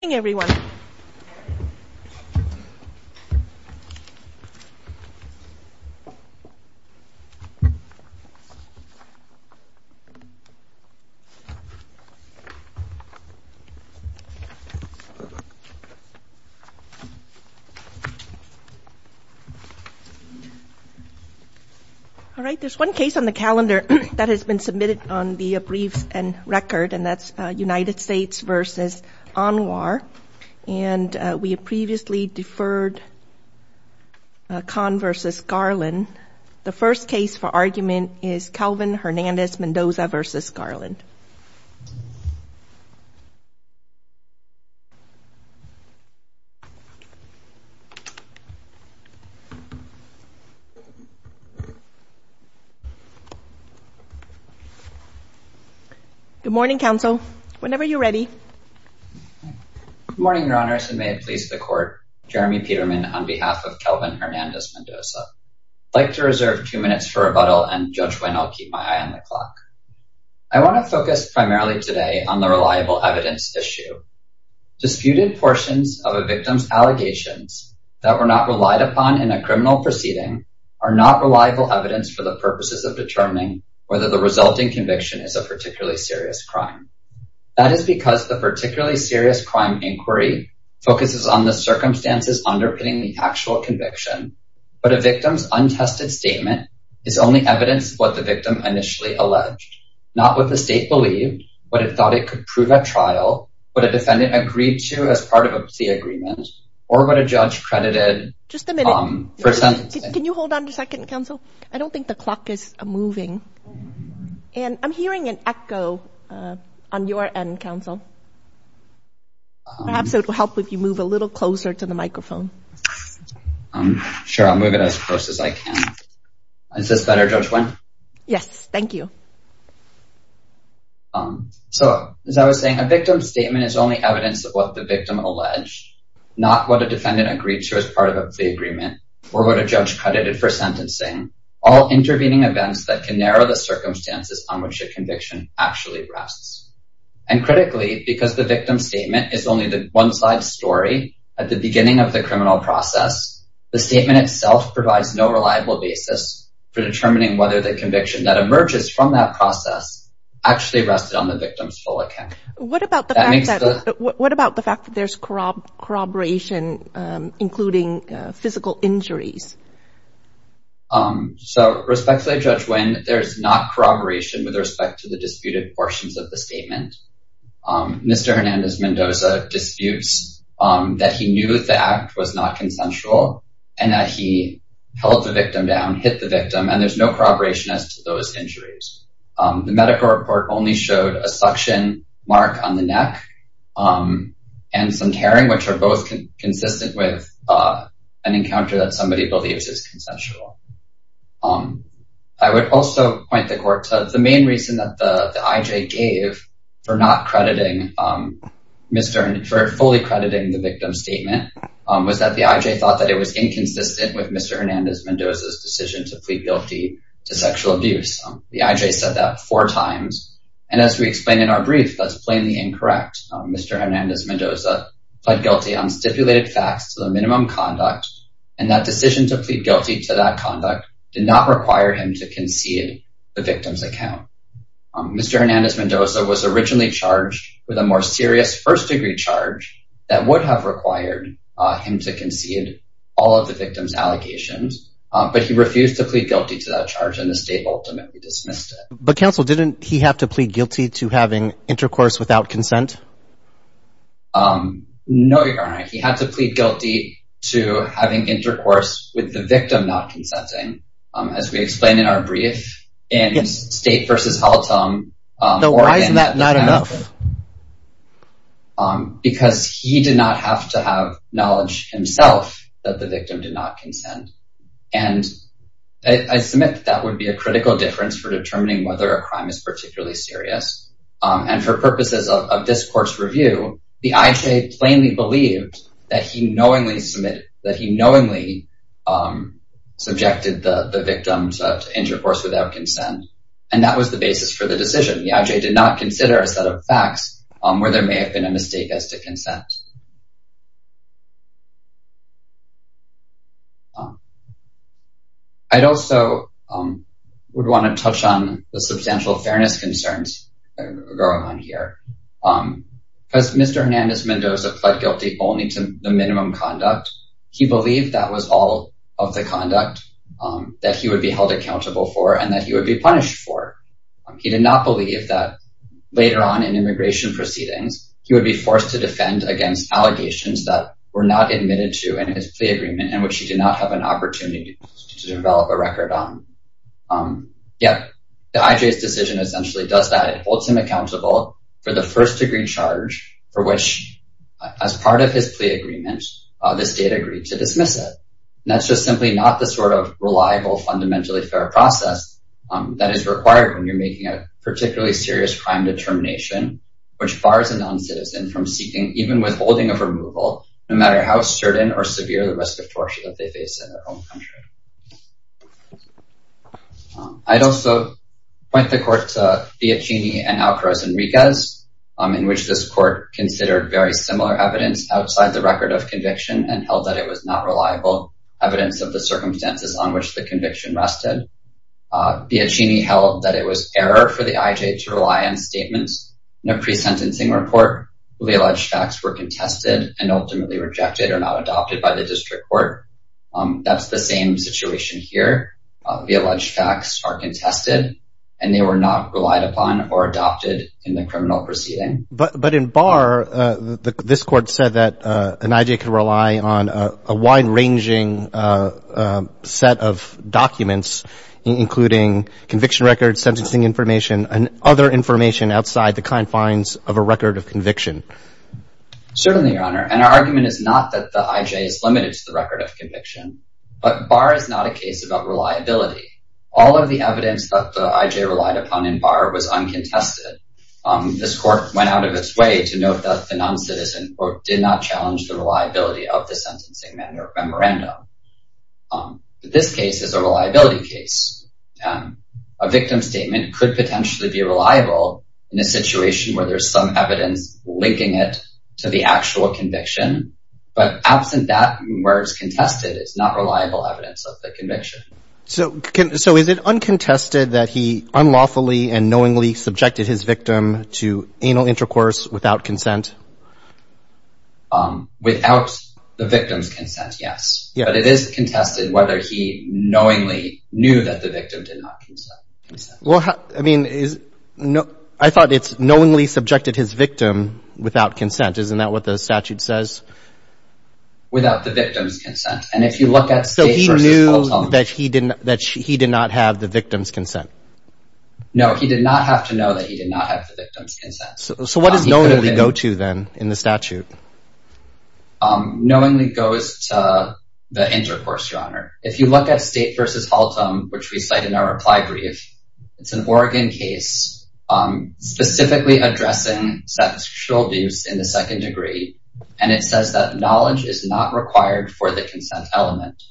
Good morning, everyone. All right, there's one case on the calendar that has been submitted on the briefs in record, and that's United States v. Anwar. And we have previously deferred Kahn v. Garland. The first case for argument is Kelvin Hernandez-Mendoza v. Garland. Good morning, counsel. Whenever you're ready. Good morning, Your Honors, and may it please the Court, I'm Jeremy Peterman on behalf of Kelvin Hernandez-Mendoza. I'd like to reserve two minutes for rebuttal, and Judge Wynn, I'll keep my eye on the clock. I want to focus primarily today on the reliable evidence issue. Disputed portions of a victim's allegations that were not relied upon in a criminal proceeding are not reliable evidence for the purposes of determining whether the resulting conviction is a particularly serious crime. That is because the particularly serious crime inquiry focuses on the circumstances underpinning the actual conviction, but a victim's untested statement is only evidence of what the victim initially alleged, not what the state believed, what it thought it could prove at trial, what a defendant agreed to as part of the agreement, or what a judge credited for sentencing. Just a minute. Can you hold on a second, counsel? I don't think the clock is moving. And I'm hearing an echo on your end, counsel. Perhaps it will help if you move a little closer to the microphone. Sure, I'll move it as close as I can. Is this better, Judge Wynn? Yes, thank you. So, as I was saying, a victim's statement is only evidence of what the victim alleged, not what a defendant agreed to as part of the agreement, or what a judge credited for sentencing. All intervening events that can narrow the circumstances on which a conviction actually rests. And critically, because the victim's statement is only the one-side story at the beginning of the criminal process, the statement itself provides no reliable basis for determining whether the conviction that emerges from that process actually rested on the victim's full account. What about the fact that there's corroboration, including physical injuries? So, respectfully, Judge Wynn, there's not corroboration with respect to the disputed portions of the statement. Mr. Hernandez-Mendoza disputes that he knew the act was not consensual and that he held the victim down, hit the victim, and there's no corroboration as to those injuries. The medical report only showed a suction mark on the neck and some tearing, which are both consistent with an encounter that somebody believes is consensual. I would also point the court to the main reason that the IJ gave for not fully crediting the victim's statement was that the IJ thought that it was inconsistent with Mr. Hernandez-Mendoza's decision to plead guilty to sexual abuse. The IJ said that four times, and as we explain in our brief, that's plainly incorrect. Mr. Hernandez-Mendoza pled guilty on stipulated facts to the minimum conduct, and that decision to plead guilty to that conduct did not require him to concede the victim's account. Mr. Hernandez-Mendoza was originally charged with a more serious first-degree charge that would have required him to concede all of the victim's allegations, but he refused to plead guilty to that charge, and the state ultimately dismissed it. But, counsel, didn't he have to plead guilty to having intercourse without consent? No, Your Honor. He had to plead guilty to having intercourse with the victim not consenting, as we explain in our brief, in State v. Haltom. Now, why isn't that not enough? Because he did not have to have knowledge himself that the victim did not consent, and I submit that would be a critical difference for determining whether a crime is particularly serious. And for purposes of this Court's review, the I.J. plainly believed that he knowingly submitted, that he knowingly subjected the victim to intercourse without consent, and that was the basis for the decision. The I.J. did not consider a set of facts where there may have been a mistake as to consent. I'd also would want to touch on the substantial fairness concerns going on here. Because Mr. Hernandez-Mendoza pled guilty only to the minimum conduct, he believed that was all of the conduct that he would be held accountable for and that he would be punished for. He did not believe that later on in immigration proceedings, allegations that were not admitted to in his plea agreement, in which he did not have an opportunity to develop a record on. Yet, the I.J.'s decision essentially does that. It holds him accountable for the first degree charge for which, as part of his plea agreement, the State agreed to dismiss it. And that's just simply not the sort of reliable, fundamentally fair process that is required when you're making a particularly serious crime determination, which bars a non-citizen from seeking even withholding of removal, no matter how certain or severe the risk of torture that they face in their own country. I'd also point the court to Biacchini and Alcaraz-Enriquez, in which this court considered very similar evidence outside the record of conviction and held that it was not reliable evidence of the circumstances on which the conviction rested. Biacchini held that it was error for the I.J. to rely on statements in a pre-sentencing report where the alleged facts were contested and ultimately rejected or not adopted by the district court. That's the same situation here. The alleged facts are contested and they were not relied upon or adopted in the criminal proceeding. But in Barr, this court said that an I.J. could rely on a wide-ranging set of documents including conviction records, sentencing information, and other information outside the confines of a record of conviction. Certainly, Your Honor. And our argument is not that the I.J. is limited to the record of conviction, but Barr is not a case about reliability. All of the evidence that the I.J. relied upon in Barr was uncontested. This court went out of its way to note that the non-citizen did not challenge the reliability of the sentencing memorandum. This case is a reliability case. A victim statement could potentially be reliable in a situation where there's some evidence linking it to the actual conviction. But absent that, where it's contested, it's not reliable evidence of the conviction. So, is it uncontested that he unlawfully and knowingly subjected his victim to anal intercourse without consent? Without the victim's consent, yes. But it is contested whether he knowingly knew that the victim did not consent. Well, I mean, I thought it's knowingly subjected his victim without consent. Isn't that what the statute says? Without the victim's consent. And if you look at State v. Households... So, he knew that he did not have the victim's consent. No, he did not have to know that he did not have the victim's consent. So, what does knowingly go to, then, in the statute? Knowingly goes to the intercourse genre. If you look at State v. Haltom, which we cite in our reply brief, it's an Oregon case specifically addressing sexual abuse in the second degree. And it says that knowledge is not required for the consent element.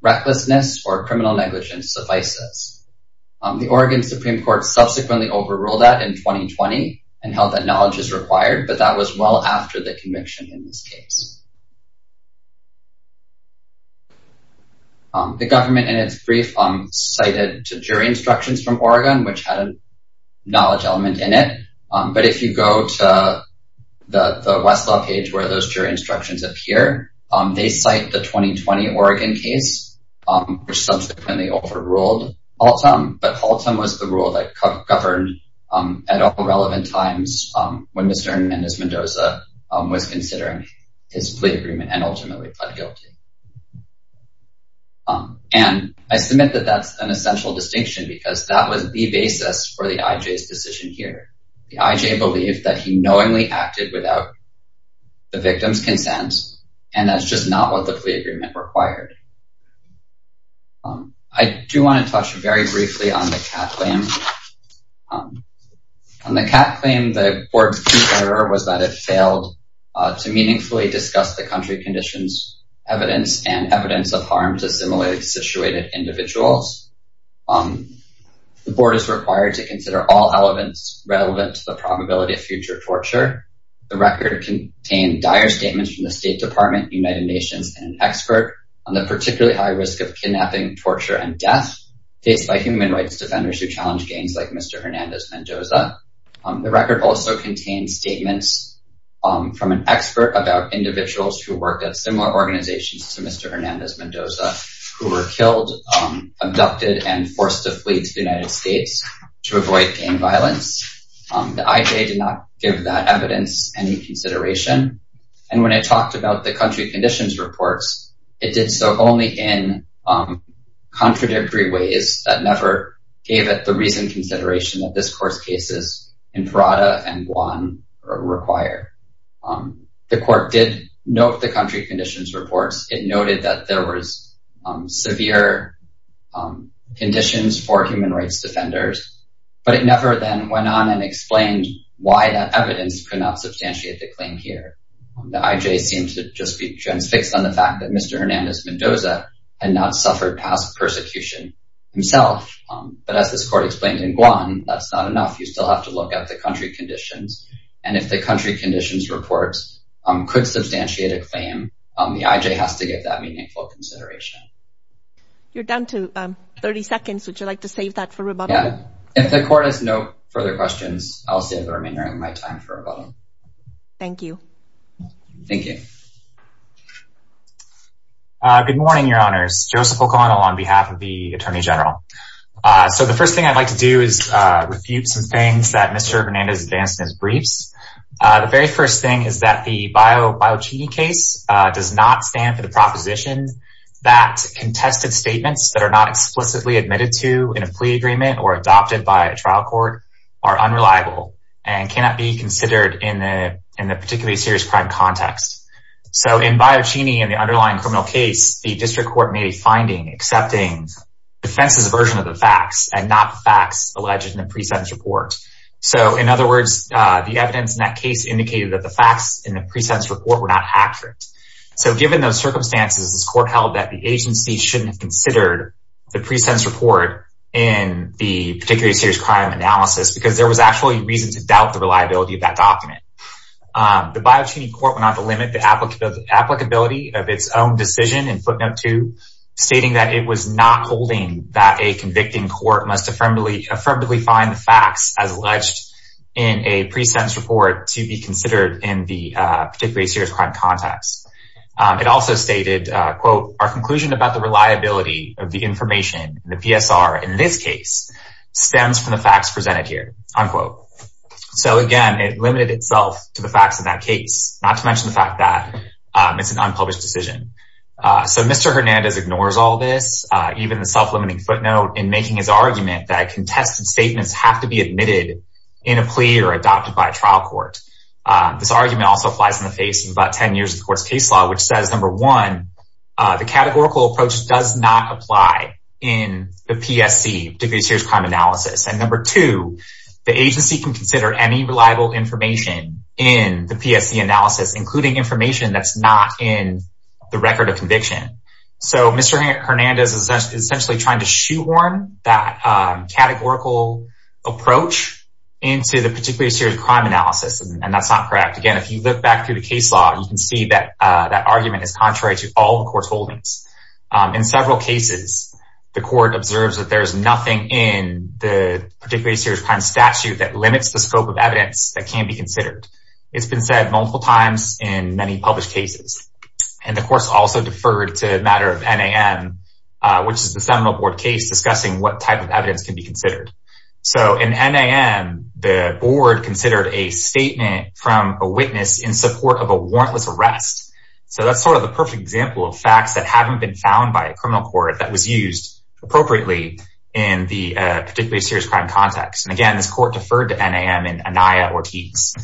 Recklessness or criminal negligence suffices. The Oregon Supreme Court subsequently overruled that in 2020 and held that knowledge is required, but that was well after the conviction in this case. The government, in its brief, cited jury instructions from Oregon, which had a knowledge element in it. But if you go to the Westlaw page where those jury instructions appear, they cite the 2020 Oregon case, which subsequently overruled Haltom. But Haltom was the rule that governed at all relevant times when Mr. Mendez-Mendoza was considering his plea agreement and ultimately pled guilty. And I submit that that's an essential distinction because that was the basis for the IJ's decision here. The IJ believed that he knowingly acted without the victim's consent, and that's just not what the plea agreement required. I do want to touch very briefly on the CAT claim. On the CAT claim, the board's chief error was that it failed to meaningfully discuss the country conditions, evidence, and evidence of harm to similarly situated individuals. The board is required to consider all elements relevant to the probability of future torture. The record contained dire statements from the State Department, United Nations, and an expert on the particularly high risk of kidnapping, torture, and death faced by human rights defenders who challenged gangs like Mr. Hernandez-Mendoza. The record also contained statements from an expert about individuals who worked at similar organizations to Mr. Hernandez-Mendoza who were killed, abducted, and forced to flee to the United States to avoid gang violence. The IJ did not give that evidence any consideration. And when it talked about the country conditions reports, it did so only in contradictory ways that never gave it the reasoned consideration that this court's cases in Parada and Guam require. The court did note the country conditions reports. It noted that there was severe conditions for human rights defenders, but it never then went on and explained why that evidence could not substantiate the claim here. The IJ seems to just be transfixed on the fact that Mr. Hernandez-Mendoza had not suffered past persecution himself. But as this court explained in Guam, that's not enough. You still have to look at the country conditions. And if the country conditions reports could substantiate a claim, the IJ has to give that meaningful consideration. You're down to 30 seconds. Would you like to save that for rebuttal? Yeah. If the court has no further questions, I'll save the remainder of my time for rebuttal. Thank you. Thank you. Good morning, Your Honors. Joseph O'Connell on behalf of the Attorney General. So the first thing I'd like to do is refute some things that Mr. Hernandez advanced in his briefs. The very first thing is that the Biocini case does not stand for the proposition that contested statements that are not explicitly admitted to in a plea agreement or adopted by a trial court are unreliable and cannot be considered in the particularly serious crime context. So in Biocini, in the underlying criminal case, the district court made a finding accepting defense's version of the facts and not the facts alleged in the pre-sentence report. So in other words, the evidence in that case indicated that the facts in the pre-sentence report were not accurate. So given those circumstances, this court held that the agency shouldn't have considered the pre-sentence report in the particularly serious crime analysis because there was actually reason to doubt the reliability of that document. The Biocini court went on to limit the applicability of its own decision in footnote 2, stating that it was not holding that a convicting court must affirmatively find the facts as alleged in a pre-sentence report to be considered in the particularly serious crime context. It also stated, quote, our conclusion about the reliability of the information in the PSR in this case stems from the facts presented here, unquote. So again, it limited itself to the facts of that case, not to mention the fact that it's an unpublished decision. So Mr. Hernandez ignores all this, even the self-limiting footnote, in making his argument that contested statements have to be admitted in a plea or adopted by a trial court. This argument also applies in the face of about 10 years of the court's case law, which says, number one, the categorical approach does not apply in the PSC, particularly serious crime analysis. And number two, the agency can consider any reliable information in the PSC analysis, including information that's not in the record of conviction. So Mr. Hernandez is essentially trying to shoehorn that categorical approach into the particularly serious crime analysis, and that's not correct. Again, if you look back through the case law, you can see that that argument is contrary to all the court's holdings. In several cases, the court observes that there is nothing in the particularly serious crime statute that limits the scope of evidence that can be considered. It's been said multiple times in many published cases. And the court's also deferred to a matter of NAM, which is the seminal board case discussing what type of evidence can be considered. So in NAM, the board considered a statement from a witness in support of a warrantless arrest. So that's sort of the perfect example of facts that haven't been found by a criminal court that was used appropriately in the particularly serious crime context. And again, this court deferred to NAM in Anaya Ortiz.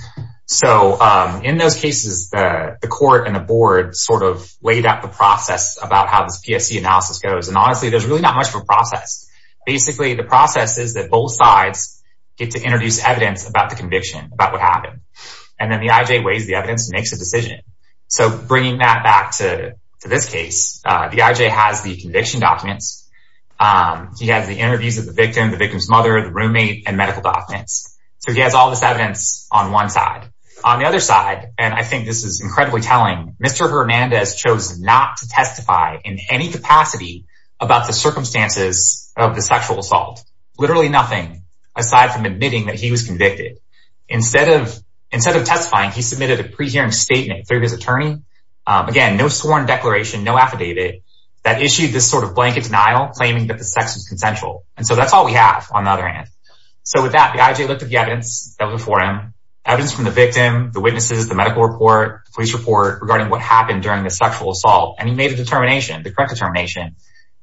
So in those cases, the court and the board sort of laid out the process about how this PSC analysis goes. And honestly, there's really not much of a process. Basically, the process is that both sides get to introduce evidence about the conviction, about what happened. And then the IJ weighs the evidence and makes a decision. So bringing that back to this case, the IJ has the conviction documents. He has the interviews of the victim, the victim's mother, the roommate, and medical documents. So he has all this evidence on one side. On the other side, and I think this is incredibly telling, Mr. Hernandez chose not to testify in any capacity about the circumstances of the sexual assault. Literally nothing aside from admitting that he was convicted. Instead of testifying, he submitted a pre-hearing statement through his attorney. Again, no sworn declaration, no affidavit that issued this sort of blanket denial claiming that the sex was consensual. And so that's all we have on the other hand. So with that, the IJ looked at the evidence that was before him. Evidence from the victim, the witnesses, the medical report, police report regarding what happened during the sexual assault. And he made a determination, the correct determination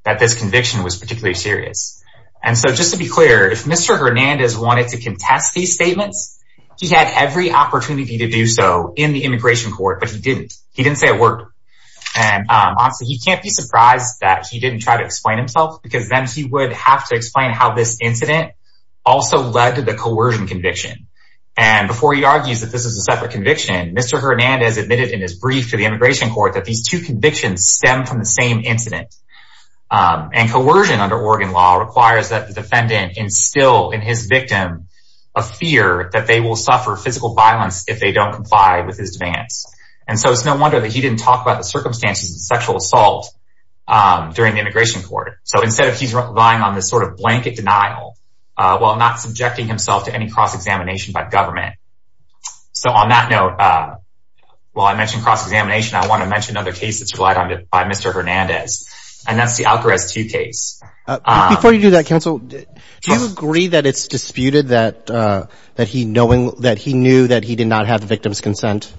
that this conviction was particularly serious. And so just to be clear, if Mr. Hernandez wanted to contest these statements, he had every opportunity to do so in the immigration court, but he didn't. He didn't say it worked. And honestly, he can't be surprised that he didn't try to explain himself because then he would have to explain how this incident also led to the coercion conviction. And before he argues that this is a separate conviction, Mr. Hernandez admitted in his brief to the immigration court that these two convictions stem from the same incident. And coercion under Oregon law requires that the defendant instill in his victim a fear that they will suffer physical violence if they don't comply with his demands. And so it's no wonder that he didn't talk about the circumstances of sexual assault during the immigration court. So instead he's relying on this sort of blanket denial, while not subjecting himself to any cross-examination by government. So on that note, while I mention cross-examination, I want to mention another case that's relied on by Mr. Hernandez. And that's the Alcarez 2 case. Before you do that, counsel, do you agree that it's disputed that he knew that he did not have the victim's consent?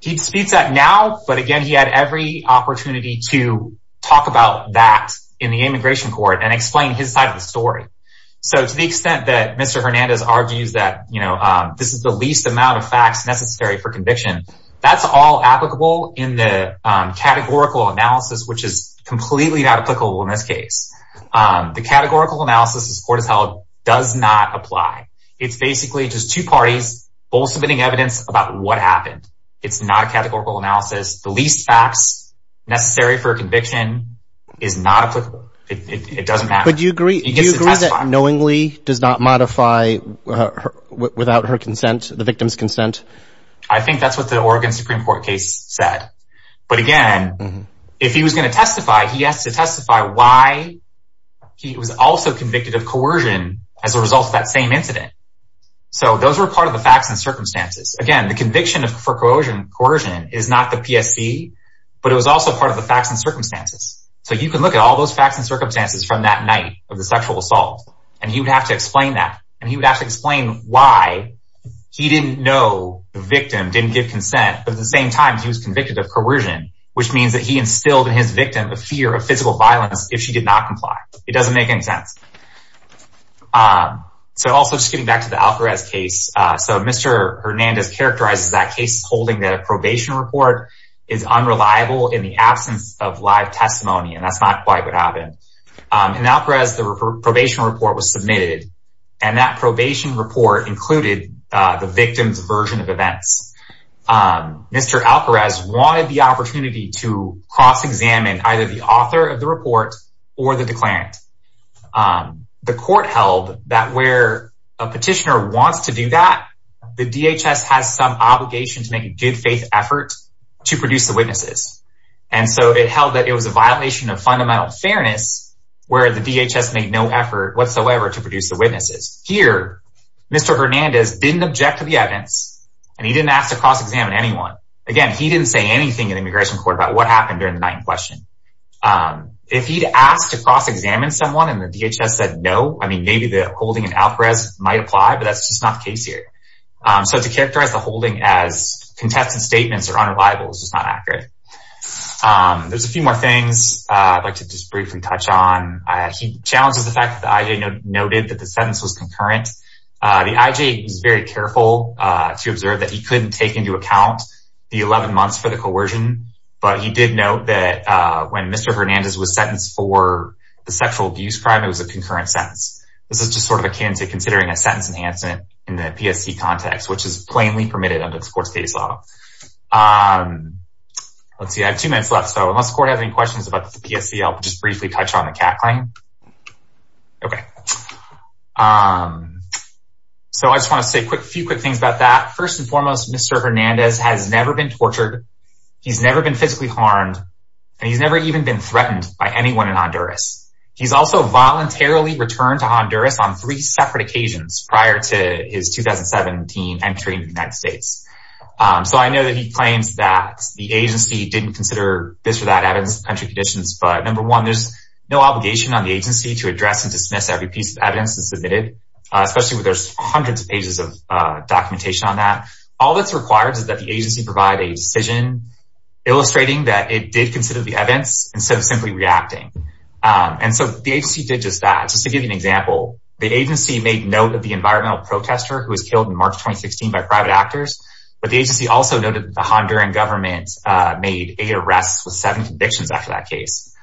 He disputes that now, but again, he had every opportunity to talk about that in the immigration court and explain his side of the story. So to the extent that Mr. Hernandez argues that this is the least amount of facts necessary for conviction, that's all applicable in the categorical analysis, which is completely not applicable in this case. The categorical analysis this court has held does not apply. It's basically just two parties both submitting evidence about what happened. It's not a categorical analysis. The least facts necessary for a conviction is not applicable. It doesn't matter. But do you agree that knowingly does not modify without her consent, the victim's consent? I think that's what the Oregon Supreme Court case said. But again, if he was going to testify, he has to testify why he was also convicted of coercion as a result of that same incident. So those were part of the facts and circumstances. Again, the conviction for coercion is not the PSC, but it was also part of the facts and circumstances. So you can look at all those facts and circumstances from that night of the sexual assault, and he would have to explain that. And he would have to explain why he didn't know the victim didn't give consent, but at the same time, he was convicted of coercion, which means that he instilled in his victim the fear of physical violence if she did not comply. It doesn't make any sense. So also just getting back to the Alperez case. So Mr. Hernandez characterizes that case holding that a probation report is unreliable in the absence of live testimony, and that's not quite what happened. In Alperez, the probation report was submitted, and that probation report included the victim's version of events. Mr. Alperez wanted the opportunity to cross-examine either the author of the report or the declarant. The court held that where a petitioner wants to do that, the DHS has some obligation to make a good faith effort to produce the witnesses. And so it held that it was a violation of fundamental fairness where the DHS made no effort whatsoever to produce the witnesses. Here, Mr. Hernandez didn't object to the evidence, and he didn't ask to cross-examine anyone. Again, he didn't say anything in the immigration court about what happened during the night in question. If he'd asked to cross-examine someone and the DHS said no, I mean, maybe the holding in Alperez might apply, but that's just not the case here. So to characterize the holding as contested statements or unreliable is just not accurate. There's a few more things I'd like to just briefly touch on. He challenges the fact that the IJ noted that the sentence was concurrent. The IJ was very careful to observe that he couldn't take into account the 11 months for the coercion, but he did note that when Mr. Hernandez was sentenced for the sexual abuse crime, it was a concurrent sentence. This is just sort of akin to considering a sentence enhancement in the PSC context, which is plainly permitted under this court's case law. Let's see, I have two minutes left, so unless the court has any questions about the PSC, I'll just briefly touch on the CAT claim. So I just want to say a few quick things about that. First and foremost, Mr. Hernandez has never been tortured. He's never been physically harmed, and he's never even been threatened by anyone in Honduras. He's also voluntarily returned to Honduras on three separate occasions prior to his 2017 entry in the United States. So I know that he claims that the agency didn't consider this or that evidence of country conditions, but number one, there's no obligation on the agency to address and dismiss every piece of evidence that's submitted, especially when there's hundreds of pages of documentation on that. All that's required is that the agency provide a decision illustrating that it did consider the evidence instead of simply reacting. And so the agency did just that. Just to give you an example, the agency made note of the environmental protester who was killed in March 2016 by private actors, but the agency also noted that the Honduran government made eight arrests with seven convictions after that case.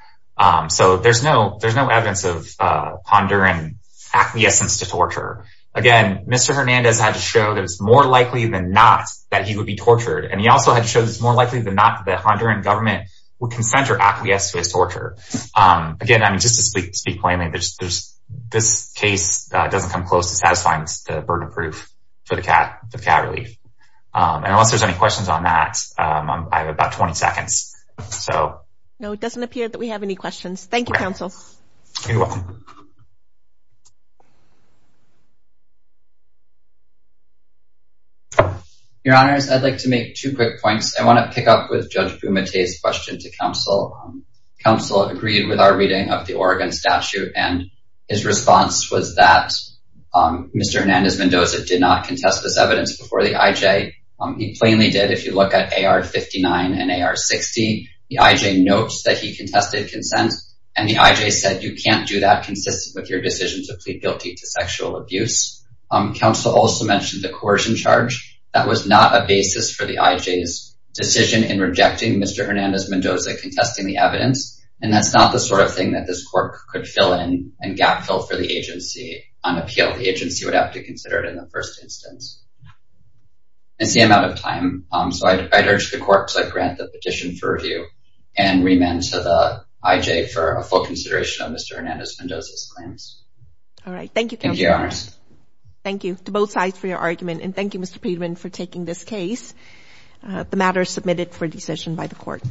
So there's no evidence of Honduran acquiescence to torture. Again, Mr. Hernandez had to show that it's more likely than not that he would be tortured, and he also had to show that it's more likely than not that the Honduran government would consent or acquiesce to his torture. Again, I mean, just to speak plainly, this case doesn't come close to satisfying the burden of proof for the cat relief. And unless there's any questions on that, I have about 20 seconds. No, it doesn't appear that we have any questions. Thank you, counsel. You're welcome. Your Honors, I'd like to make two quick points. I want to pick up with Judge Bumate's question to counsel. Counsel agreed with our reading of the Oregon statute, and his response was that Mr. Hernandez-Mendoza did not contest this evidence before the IJ. He plainly did if you look at AR-59 and AR-60. The IJ notes that he contested consent, and the IJ said you can't do that consistent with your decision to plead guilty to sexual abuse. Counsel also mentioned the coercion charge. That was not a basis for the IJ's decision in rejecting Mr. Hernandez-Mendoza contesting the evidence, and that's not the sort of thing that this court could fill in and gap fill for the agency on appeal. The agency would have to consider it in the first instance. It's the amount of time, so I'd urge the court to grant the petition for review and remand to the IJ for a full consideration of Mr. Hernandez-Mendoza's claims. All right. Thank you, counsel. Thank you, Your Honors. Thank you to both sides for your argument, and thank you, Mr. Peterman, for taking this case. The matter is submitted for decision by the court.